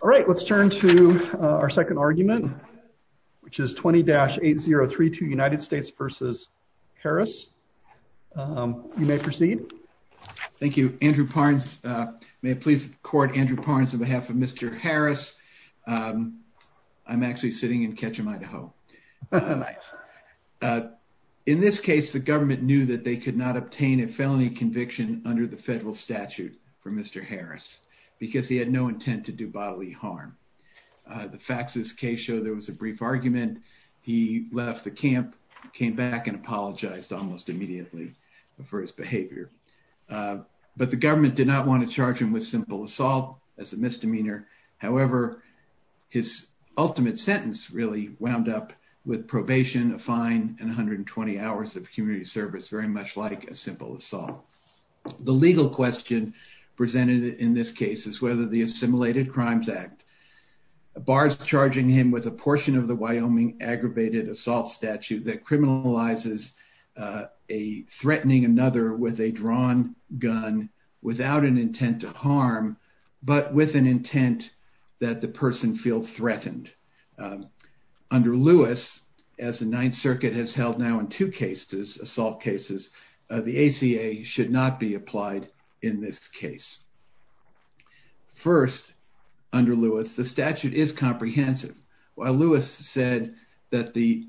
All right, let's turn to our second argument, which is 20-8032 United States v. Harris. You may proceed. Thank you, Andrew Parnes. May I please court Andrew Parnes on behalf of Mr. Harris? I'm actually sitting in Ketchum, Idaho. In this case, the government knew that they could not obtain a felony conviction under the federal statute for Mr. Harris because he had no intent to do bodily harm. The facts of this case show there was a brief argument. He left the camp, came back, and apologized almost immediately for his behavior. But the government did not want to charge him with simple assault as a misdemeanor. However, his ultimate sentence really wound up with probation, a fine, and 120 hours of community service, very much like a simple crimes act. Bars charging him with a portion of the Wyoming aggravated assault statute that criminalizes a threatening another with a drawn gun without an intent to harm, but with an intent that the person feel threatened. Under Lewis, as the Ninth Circuit has held now in two cases, assault cases, the ACA should not be applied in this case. First, under Lewis, the statute is comprehensive. While Lewis said that the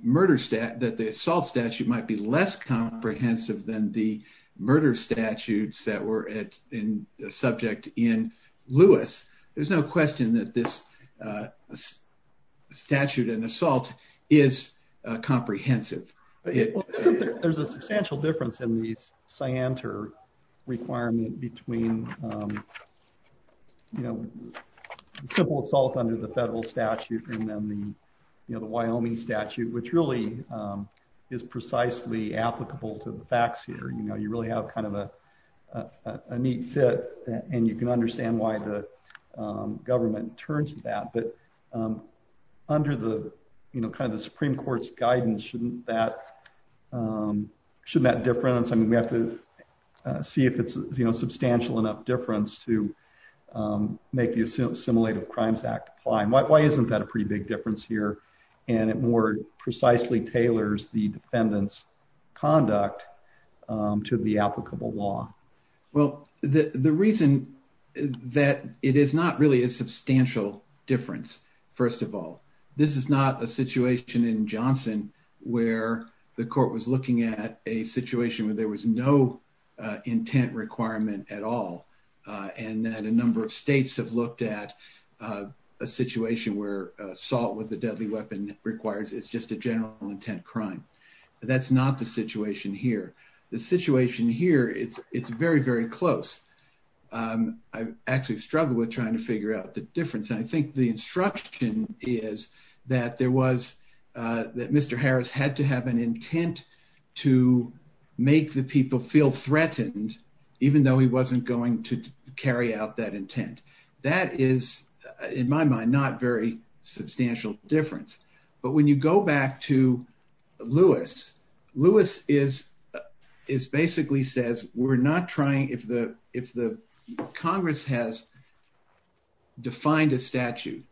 assault statute might be less comprehensive than the murder statutes that were subject in Lewis, there's no question that this assault is comprehensive. There's a substantial difference in the requirement between simple assault under the federal statute and then the Wyoming statute, which really is precisely applicable to the facts here. You really have kind of a neat fit and you can understand why the government turns to that, but under the Supreme Court's guidance, shouldn't that difference? I mean, we have to see if it's substantial enough difference to make the assimilative crimes act apply. Why isn't that a pretty big difference here? And it more precisely tailors the defendant's conduct to the applicable law. Well, the reason that it is not really a substantial difference, first of all, this is not a situation in Johnson where the court was looking at a situation where there was no intent requirement at all, and that a number of states have looked at a situation where assault with a deadly weapon requires it's just a general intent crime. That's not the situation here. The situation here, it's very, very close. I've actually struggled with trying to figure out the difference. I think the instruction is that there was that Mr. Harris had to have an intent to make the people feel threatened, even though he wasn't going to carry out that intent. That is, in my mind, not very substantial difference. But when you go back to Lewis, Lewis basically says, if Congress has defined a statute,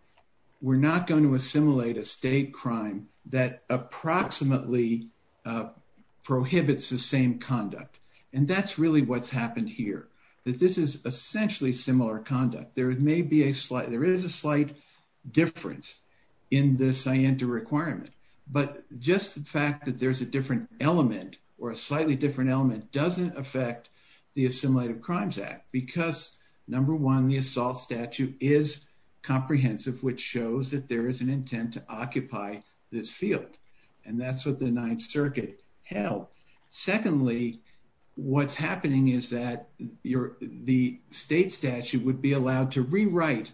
we're not going to assimilate a state crime that approximately prohibits the same conduct. And that's really what's happened here, that this is essentially similar conduct. There may be a slight, there is a slight difference in the scienter requirement, but just the fact that there's a different element or a slightly different element doesn't affect the Assimilated Crimes Act, because number one, the assault statute is comprehensive, which shows that there is an intent to occupy this field. And that's what the Ninth Circuit held. Secondly, what's happening is that the state statute would be allowed to rewrite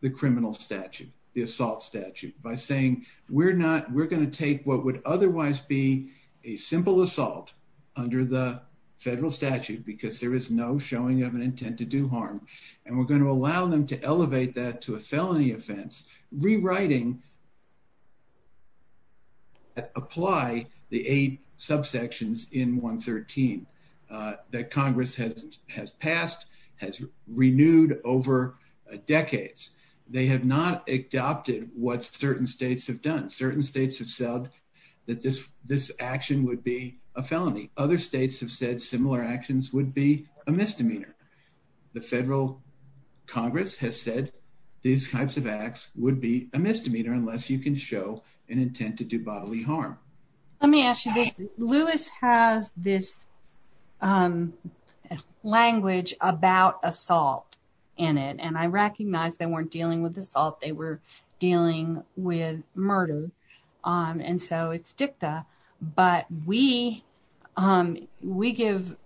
the criminal statute, the assault statute, by saying, we're not, we're going to take what would otherwise be a simple assault under the federal statute, because there is no showing of an intent to do harm. And we're going to allow them to elevate that to a felony offense, rewriting, apply the eight subsections in 113 that Congress has passed, has renewed over decades. They have not adopted what certain states have done. Certain states have said that this action would be a felony. Other states have said similar actions would be a misdemeanor. The federal Congress has these types of acts would be a misdemeanor unless you can show an intent to do bodily harm. Let me ask you this. Lewis has this language about assault in it. And I recognize they weren't dealing with assault, they were dealing with murder. And so it's dicta. But we give,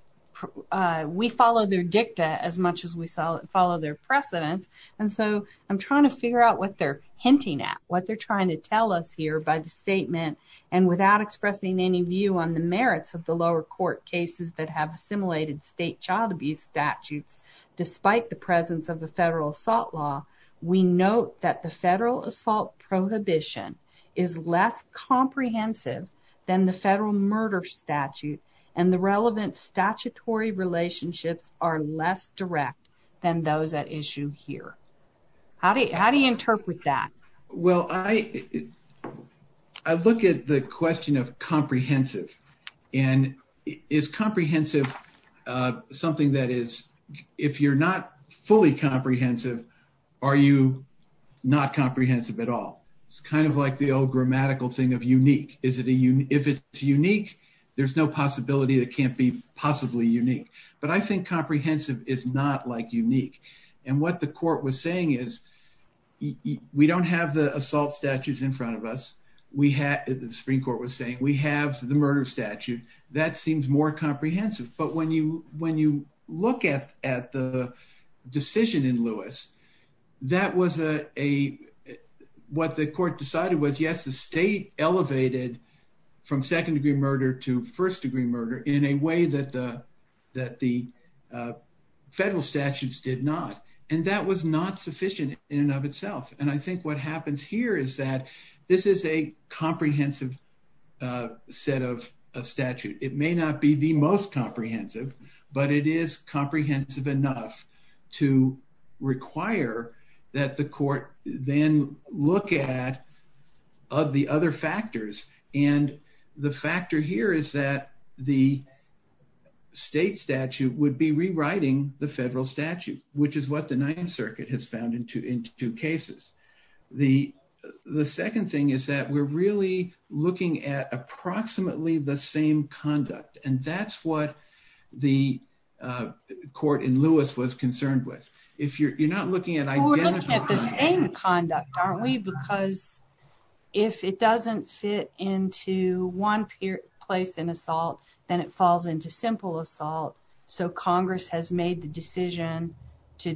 we follow their dicta as much as we follow their precedent. And so I'm trying to figure out what they're hinting at, what they're trying to tell us here by the statement. And without expressing any view on the merits of the lower court cases that have assimilated state child abuse statutes, despite the presence of the federal assault law, we note that the federal assault prohibition is less comprehensive than the federal murder statute. And the relevant statutory relationships are less direct than those at issue here. How do you interpret that? I look at the question of comprehensive. And is comprehensive something that is, if you're not fully comprehensive, are you not comprehensive at all? It's kind of like the old grammatical thing of unique. If it's unique, there's no possibility that can't be possibly unique. But I think comprehensive is not like unique. And what the court was saying is, we don't have the assault statutes in front of us. The Supreme Court was saying we have the murder statute. That seems more comprehensive. But when you look at the decision in Lewis, what the court decided was, yes, the state elevated from second degree murder to first degree murder in a way that the federal statutes did not. And that was not sufficient in and of itself. It may not be the most comprehensive, but it is comprehensive enough to require that the court then look at the other factors. And the factor here is that the state statute would be rewriting the federal statute, which is what the Ninth Circuit has found in two cases. The second thing is that we're really looking at approximately the same conduct. And that's what the court in Lewis was concerned with. If you're not looking at identical- We're looking at the same conduct, aren't we? Because if it doesn't fit into one place in assault, then it falls into simple assault. So Congress has made the decision to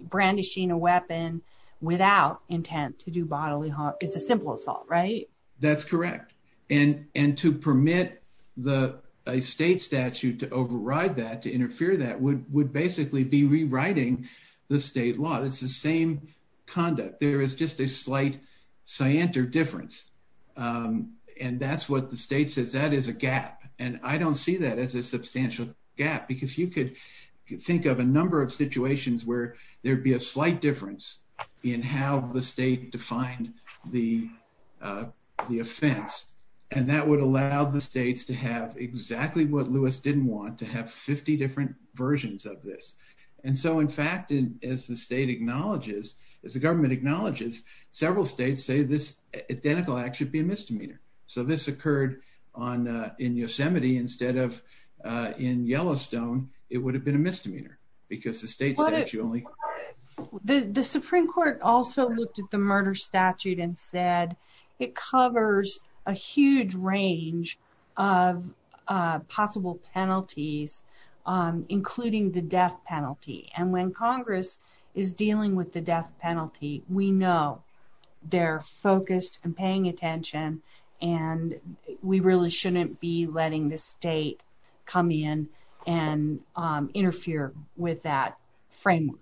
brandishing a weapon without intent to do bodily harm. It's a simple assault, right? That's correct. And to permit a state statute to override that, to interfere that, would basically be rewriting the state law. It's the same conduct. There is just a slight, scienter difference. And that's what the state says. That is a gap. And I don't see that as a substantial gap. Because you could think of a number of situations where there'd be a slight difference in how the state defined the offense. And that would allow the states to have exactly what Lewis didn't want, to have 50 different versions of this. And so, in fact, as the state acknowledges, as the government acknowledges, several states say this identical act should be a misdemeanor. So this occurred in Yosemite instead of in Yellowstone. It would have been a misdemeanor. Because the state statute only... The Supreme Court also looked at the murder statute and said it covers a huge range of possible penalties, including the death penalty. And when Congress is dealing with the death penalty, we know they're focused and paying attention. And we really shouldn't be letting the state come in and interfere with that framework.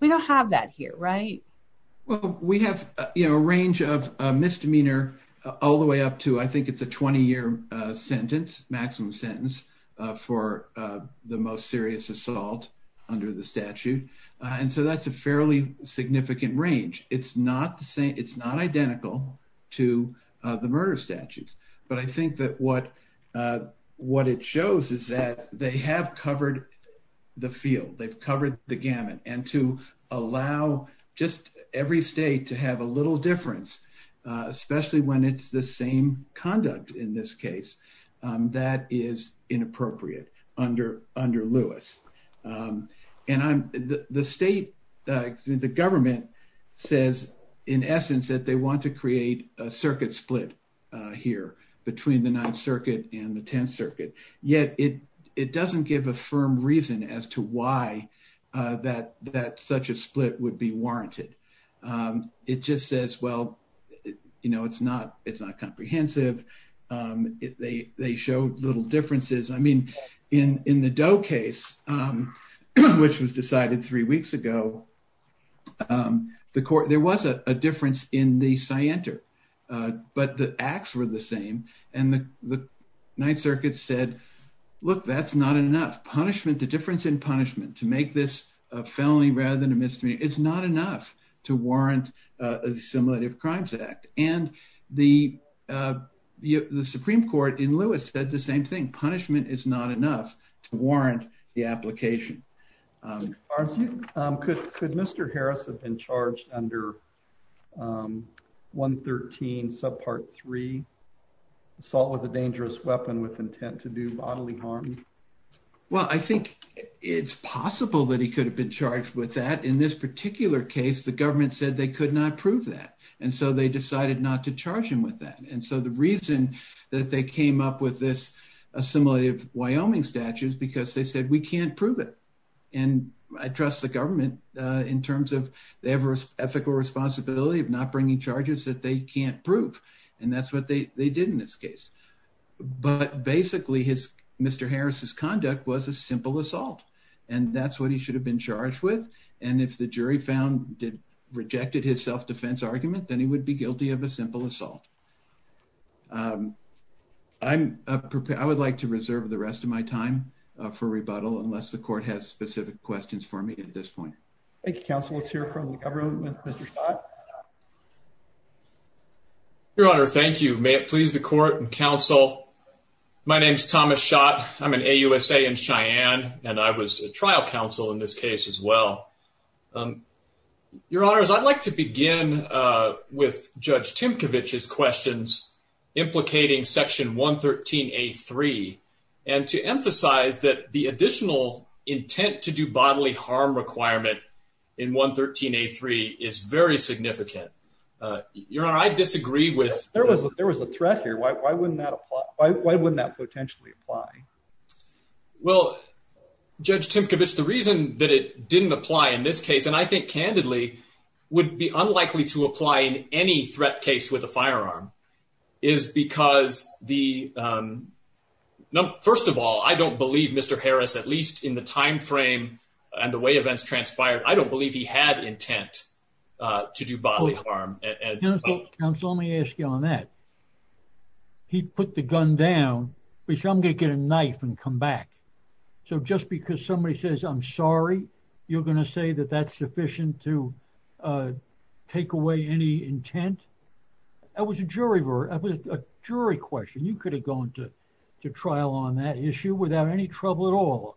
We don't have that here, right? Well, we have a range of misdemeanor all the way up to, I think it's a 20-year sentence, maximum sentence, for the most serious assault under the statute. And so that's a fairly significant range. It's not identical to the murder statutes. But I think that what it shows is that they have covered the field. They've covered the gamut. And to allow just every state to have a little difference, especially when it's the same conduct in this case, that is inappropriate under Lewis. And the state, excuse me, the government says in essence that they want to create a circuit split here between the Ninth Circuit and the Tenth Circuit. Yet it doesn't give a firm reason as to why that such a split would be warranted. It just says, well, it's not comprehensive. They show little differences. I mean, in the Doe case, which was decided three weeks ago, there was a difference in the scienter, but the acts were the same. And the Ninth Circuit said, look, that's not enough. Punishment, the difference in punishment to make this a felony rather than a misdemeanor, it's not enough to warrant a simulative crimes act. And the Supreme Court in Lewis said the same thing. Punishment is not enough to warrant the application. Could Mr. Harris have been charged under 113 subpart three, assault with a dangerous weapon with intent to do bodily harm? Well, I think it's possible that he could have been charged with that. In this particular case, the government said they could not prove that. And so they decided not to charge him with that. And so the reason that they came up with this assimilative Wyoming statutes, because they said we can't prove it. And I trust the government in terms of the ethical responsibility of not bringing charges that they can't prove. And that's what they did in this case. But basically his Mr. Harris's conduct was a simple assault. And that's what he should have been charged with. And if the jury found did rejected his self-defense argument, then he would be guilty of a simple assault. Um, I'm prepared. I would like to reserve the rest of my time for rebuttal unless the court has specific questions for me at this point. Thank you, counsel. Let's hear from the government. Your honor, thank you. May it please the court and counsel. My name is Thomas Schott. I'm an AUSA in Cheyenne, and I was a trial counsel in this case as well. Your honors, I'd like to begin with Judge Timkovich's questions implicating Section 113 A3 and to emphasize that the additional intent to do bodily harm requirement in 113 A3 is very significant. Your honor, I disagree with... There was a threat here. Why wouldn't that apply? Why wouldn't that potentially apply? Well, Judge Timkovich, the reason that it didn't apply in this case, and I think candidly, would be unlikely to apply in any threat case with a firearm, is because the, um... First of all, I don't believe Mr. Harris, at least in the time frame and the way events transpired, I don't believe he had intent to do bodily harm. Counsel, let me ask you on that. He put the gun down. He said, I'm going to get a knife and come back. So just because somebody says, I'm sorry, you're going to say that that's sufficient to take away any intent? That was a jury question. You could have gone to trial on that issue without any trouble at all,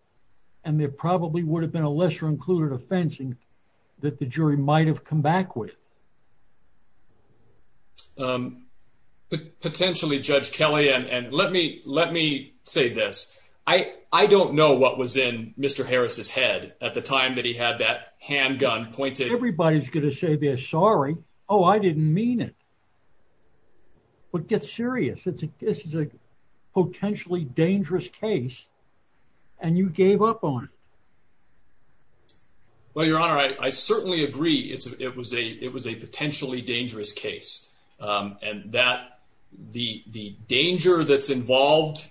and there probably would have been a lesser included offense that the jury might have come back with. Potentially, Judge Kelly, and let me say this. I don't know what was in Mr. Harris's head at the time that he had that handgun pointed... Everybody's going to say they're sorry. Oh, I didn't mean it. But get serious. This is a potentially dangerous case, and you gave up on it. Well, Your Honor, I certainly agree it was a potentially dangerous case, and the danger that's involved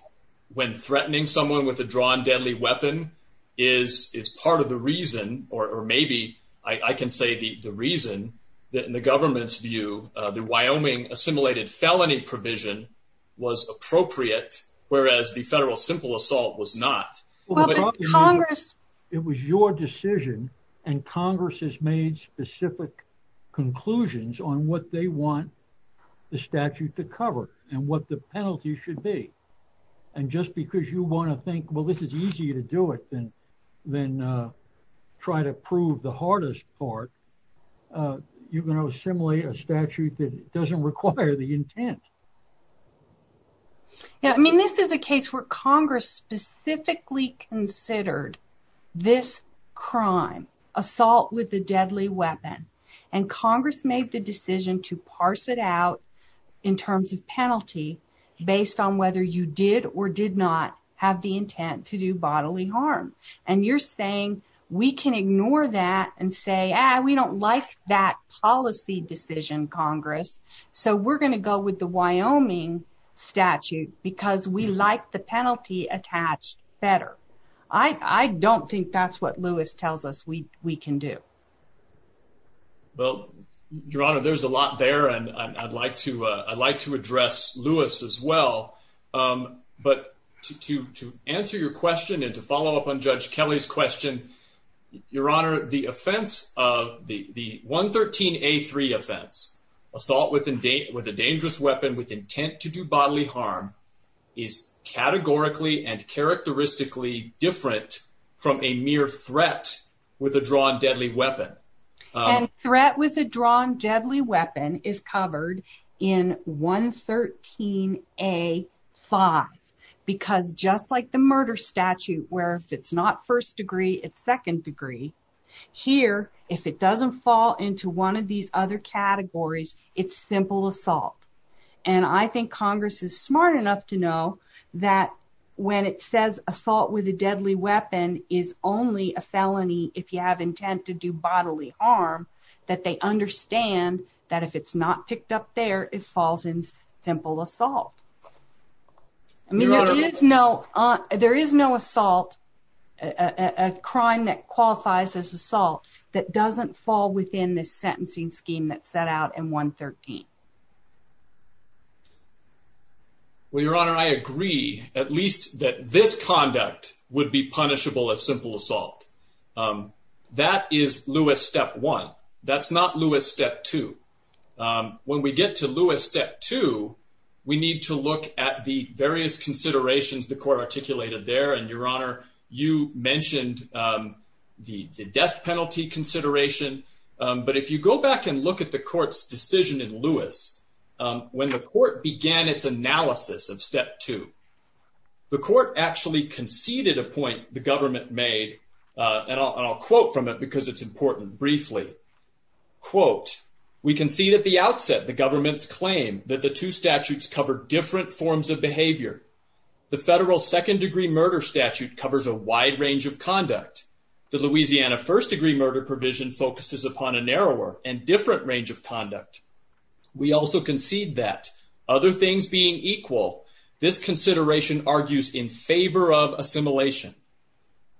when threatening someone with a drawn deadly weapon is part of the reason, or maybe I can say the reason, that in the government's view, the Wyoming assimilated felony provision was appropriate, whereas the federal simple assault was not. But Congress... It was your decision, and Congress has made specific conclusions on what they want the statute to cover and what the penalty should be. And just because you want to think, well, this is easier to do it than try to prove the hardest part, you're going to assimilate a statute that doesn't require the intent. Yeah, I mean, this is a case where Congress specifically considered this crime, assault with a deadly weapon, and Congress made the decision to parse it out in terms of penalty based on whether you did or did not have the intent to do bodily harm. And you're saying we can ignore that and say, ah, we don't like that policy decision, Congress, so we're going to go with the Wyoming statute because we like the penalty attached better. I don't think that's what Lewis tells us we can do. Well, Your Honor, there's a lot there, and I'd like to address Lewis as well. But to answer your question and to follow up on Judge Kelly's question, Your Honor, the offense of the 113A3 offense, assault with a dangerous weapon with intent to do bodily harm, is categorically and characteristically different from a mere threat with a drawn deadly weapon. And threat with a drawn deadly weapon is covered in 113A5 because just like the murder statute, where if it's not first degree, it's second degree, here, if it doesn't fall into one of these other categories, it's simple assault. And I think Congress is smart enough to know that when it says assault with a deadly weapon is only a felony if you have intent to do bodily harm, that they understand that if it's not picked up there, it falls in simple assault. I mean, there is no assault, a crime that qualifies as assault, that doesn't fall within this sentencing scheme that's set out in 113. Well, Your Honor, I agree at least that this conduct would be punishable as simple assault. That is Lewis step one. That's not Lewis step two. When we get to Lewis step two, we need to look at the various considerations the court articulated there. And Your Honor, you mentioned the death penalty consideration. But if you go back and look at the court's decision in Lewis, when the court began its analysis of step two, the court actually conceded a point the government made. And I'll quote from it because it's important, briefly. Quote, we can see that the outset, the government's claim that the two statutes cover different forms of behavior. The federal second degree murder statute covers a wide range of conduct. The Louisiana first degree murder provision focuses upon a narrower and different range of conduct. We also concede that other things being equal, this consideration argues in favor of assimilation.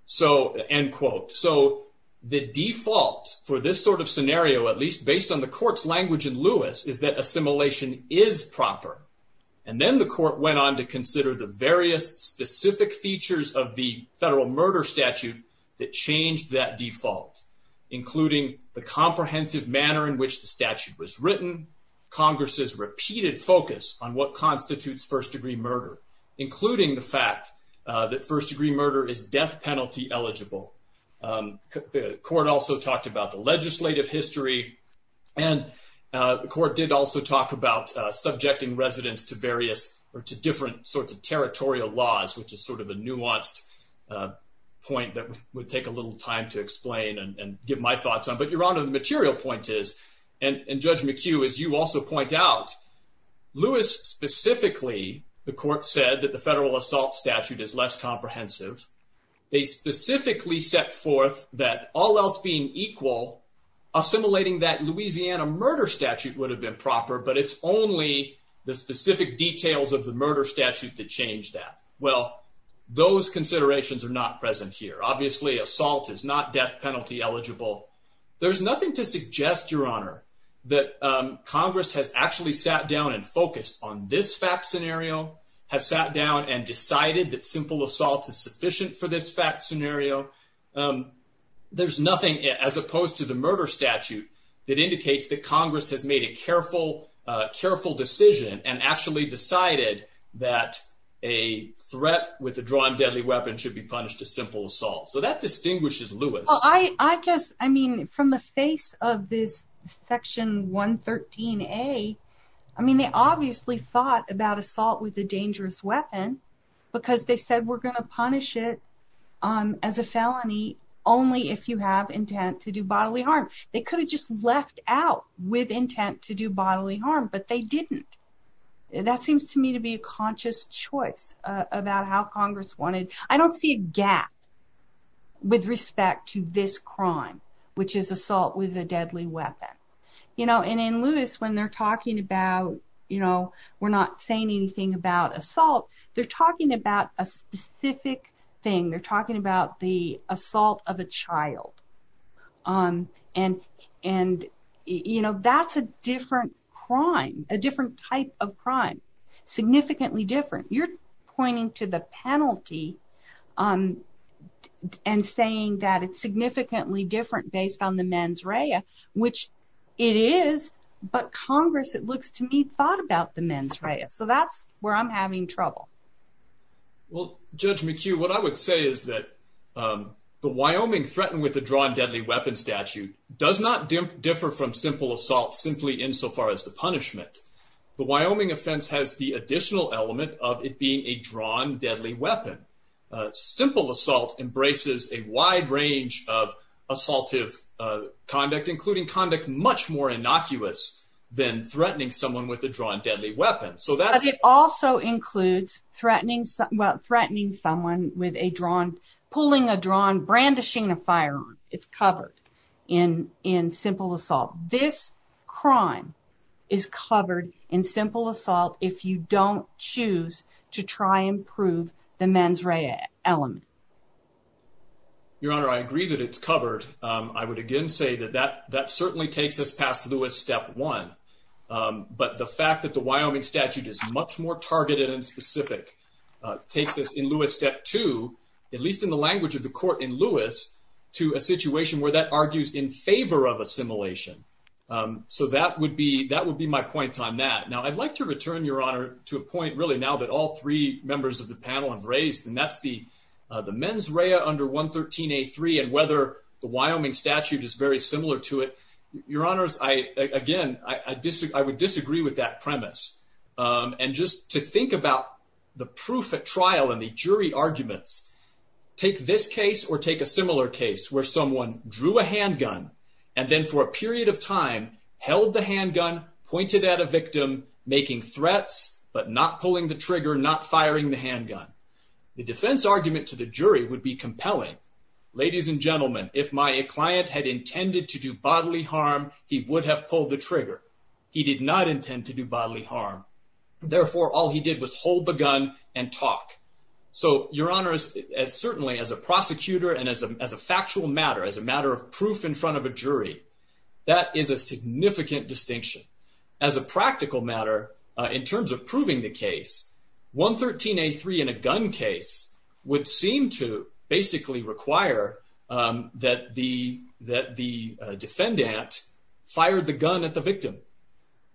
So end quote. So the default for this sort of scenario, at least based on the court's language in Lewis, is that assimilation is proper. And then the court went on to consider the various specific features of the federal murder statute that changed that default, including the comprehensive manner in which the statute was written, Congress's repeated focus on what eligible. The court also talked about the legislative history. And the court did also talk about subjecting residents to various or to different sorts of territorial laws, which is sort of a nuanced point that would take a little time to explain and give my thoughts on. But your honor, the material point is, and Judge McHugh, as you also point out, Lewis specifically, the court said that the federal assault statute is less comprehensive. They specifically set forth that all else being equal, assimilating that Louisiana murder statute would have been proper, but it's only the specific details of the murder statute that changed that. Well, those considerations are not present here. Obviously, assault is not death penalty eligible. There's nothing to suggest, your honor, that Congress has actually sat down and focused on this fact scenario, has sat down and decided that simple assault is sufficient for this fact scenario. There's nothing as opposed to the murder statute that indicates that Congress has made a careful, careful decision and actually decided that a threat with a drawn deadly weapon should be punished a simple assault. So that distinguishes Lewis. I guess, I mean, from the face of this I obviously thought about assault with a dangerous weapon because they said we're going to punish it as a felony only if you have intent to do bodily harm. They could have just left out with intent to do bodily harm, but they didn't. That seems to me to be a conscious choice about how Congress wanted. I don't see a gap with respect to this crime, which is assault with a deadly weapon. You know, and in Lewis, when they're talking about, you know, we're not saying anything about assault, they're talking about a specific thing. They're talking about the assault of a child. And, you know, that's a different crime, a different type of crime, significantly different. You're pointing to the penalty and saying that it's significantly different based on the mens rea, which it is, but Congress, it looks to me, thought about the mens rea. So that's where I'm having trouble. Well, Judge McHugh, what I would say is that the Wyoming threatened with a drawn deadly weapon statute does not differ from simple assault simply insofar as the punishment. The Wyoming offense has the additional element of it being a drawn deadly weapon. Simple assault embraces a wide range of assaultive conduct, including conduct much more innocuous than threatening someone with a drawn deadly weapon. Because it also includes threatening someone with a drawn, pulling a drawn, brandishing a firearm. It's covered in simple assault. This crime is covered in simple assault if you don't choose to try and prove the mens rea element. Your Honor, I agree that it's covered. I would again say that that certainly takes us past Lewis step one. But the fact that the Wyoming statute is much more targeted and specific takes us in Lewis step two, at least in the language of the court in Lewis, to a situation where that argues in favor of assimilation. So that would be that would be my point on that. Now, I'd like to return your honor to a point really now that all three members of the panel have raised, and that's the the mens rea under 113 a three and whether the Wyoming statute is very similar to it. Your honors, I again, I disagree. I would disagree with that premise on just to think about the proof at trial and the jury arguments. Take this case or take a similar case where someone drew a handgun and then for a period of time held the handgun pointed at a victim making threats but not pulling the trigger, not firing the handgun. The defense argument to the jury would be compelling. Ladies and gentlemen, if my client had intended to do bodily harm, he would have pulled the trigger. He did not intend to do bodily harm. Therefore, all he did was hold the gun and talk. So your honors, as certainly as a prosecutor and as a as a factual matter, as a matter of proof in front of a jury, that is a significant distinction as a practical matter. In terms of proving the case, 113 a three in a gun case would seem to basically require that the that the defendant fired the gun at the victim.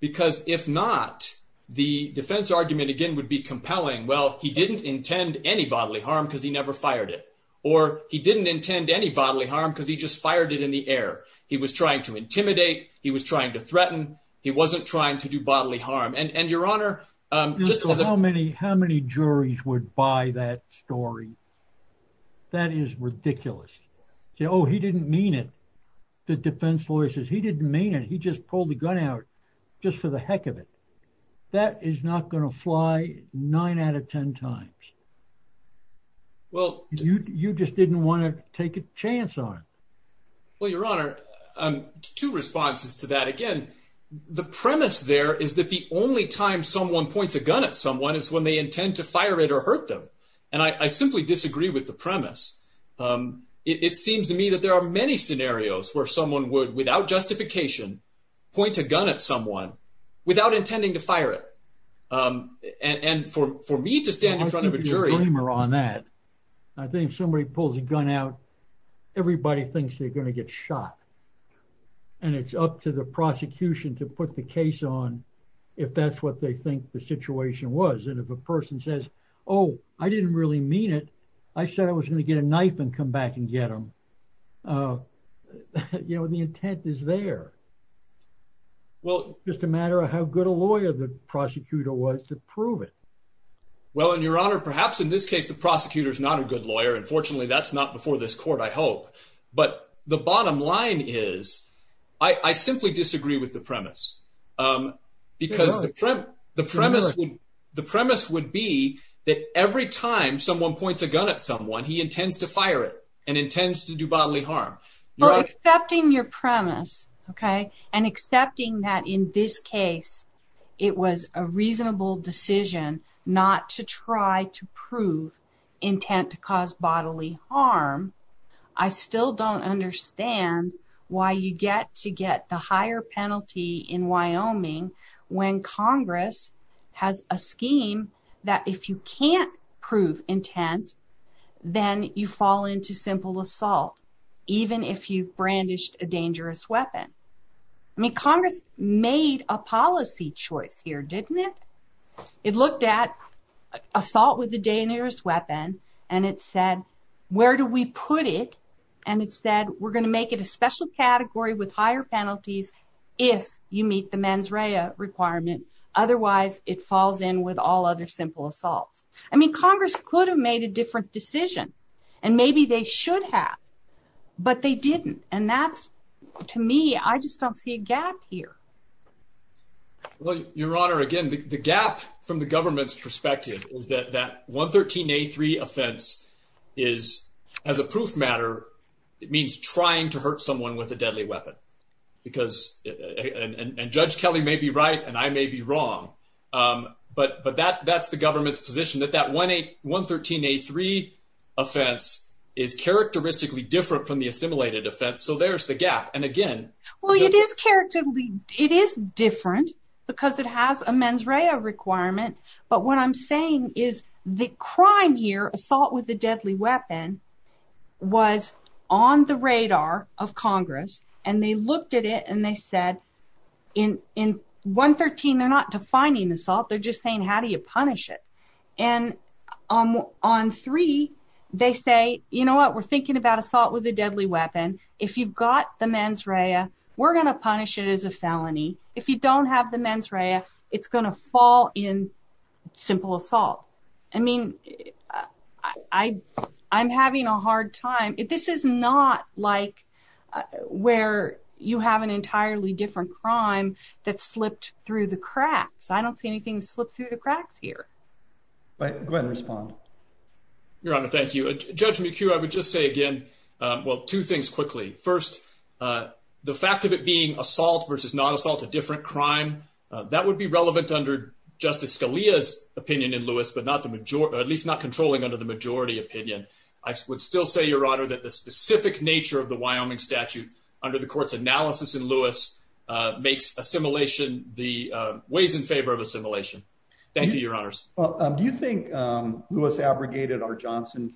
Because if not, the defense argument again would be compelling. Well, he didn't intend any bodily harm because he never fired it or he didn't intend any bodily harm because he just fired it in the air. He was trying to intimidate. He was trying to threaten. He wasn't trying to do bodily harm. And your honor, just how many how many juries would buy that story? That is ridiculous. Oh, he didn't mean it. The defense lawyer says he didn't mean it. He just pulled the gun out just for the heck of it. That is not going to fly nine out of 10 times. Well, you just didn't want to take a chance on. Well, your honor, two responses to that. Again, the premise there is that the only time someone points a gun at someone is when they intend to fire it or hurt them. And I simply disagree with the premise. It seems to me that there are many scenarios where someone would, without justification, point a gun at someone without intending to fire it. And for for me to stand in front of a jury on that, I think somebody pulls a gun out. Everybody thinks they're going to get shot. And it's up to the prosecution to put the case on if that's what they think the situation was. And if a person says, oh, I didn't really mean it. I said I was going to get a knife and come back and get him. You know, the intent is there. Well, just a matter of how good a lawyer the prosecutor was to prove it. Well, and your honor, perhaps in this case, the prosecutor is not a good lawyer. And fortunately, that's not before this court, I hope. But the bottom line is, I simply disagree with the premise, because the premise would be that every time someone points a gun at someone, he intends to fire it and intends to do bodily harm. Well, accepting your premise, okay, and accepting that in this case, it was a reasonable decision not to try to prove intent to cause bodily harm. I still don't understand why you get to get the higher penalty in Wyoming, when Congress has a scheme that if you can't prove intent, then you fall into simple assault, even if you've brandished a dangerous weapon. I mean, Congress made a policy choice here, didn't it? It looked at where do we put it? And it said, we're going to make it a special category with higher penalties, if you meet the mens rea requirement. Otherwise, it falls in with all other simple assaults. I mean, Congress could have made a different decision. And maybe they should have. But they didn't. And that's, to me, I just don't see a gap here. Well, your honor, again, the gap from the government's perspective is that that 113A3 offense is, as a proof matter, it means trying to hurt someone with a deadly weapon. And Judge Kelly may be right, and I may be wrong. But that's the government's position, that that 113A3 offense is characteristically different from the assimilated offense. So there's the gap. And again... Well, it is different, because it has a mens rea requirement. But what I'm saying is, the crime here, assault with a deadly weapon, was on the radar of Congress. And they looked at it, and they said, in 113, they're not defining assault, they're just saying, how do you punish it? And on three, they say, you know what, we're thinking about assault with a deadly weapon. If you've got the mens rea, we're going to punish it as a felony. If you don't have the mens rea, it's going to fall in simple assault. I mean, I'm having a hard time. This is not like where you have an entirely different crime that slipped through the cracks. I don't see anything slip through the cracks here. Go ahead and respond. Your honor, thank you. Judge McHugh, I would just say again, well, two things quickly. First, the fact of it being assault versus non-assault, a different crime, that would be relevant under Justice Scalia's opinion in Lewis, but at least not controlling under the majority opinion. I would still say, your honor, that the specific nature of the Wyoming statute, under the court's analysis in Lewis, makes assimilation the ways in favor of assimilation. Thank you, your honors. Well, do you think Lewis abrogated our judgment?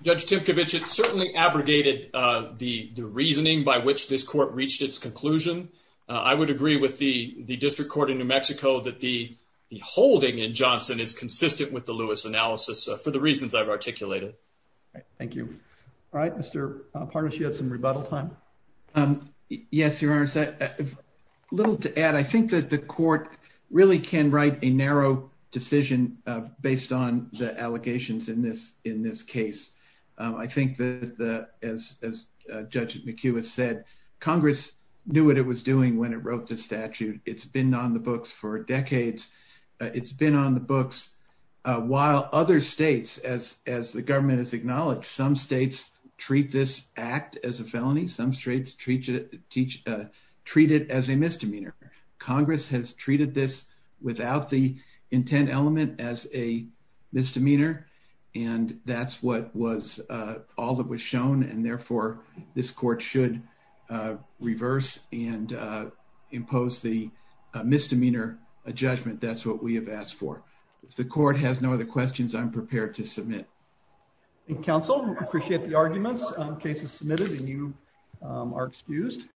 Judge Timkovich, it certainly abrogated the reasoning by which this court reached its conclusion. I would agree with the district court in New Mexico that the holding in Johnson is consistent with the Lewis analysis, for the reasons I've articulated. Thank you. All right, Mr. Pardish, you had some rebuttal time. Yes, your honors. A little to add, I think that the court really can write a narrow decision based on the allegations in this case. I think, as Judge McHugh has said, Congress knew what it was doing when it wrote the statute. It's been on the books for decades. It's been on the books while other states, as the government has acknowledged, some states treat this act as a felony, some states treat it as a misdemeanor. Congress has without the intent element as a misdemeanor, and that's what was all that was shown, and therefore this court should reverse and impose the misdemeanor judgment. That's what we have asked for. If the court has no other questions, I'm prepared to submit. Counsel, we appreciate the arguments on cases submitted, and you are excused.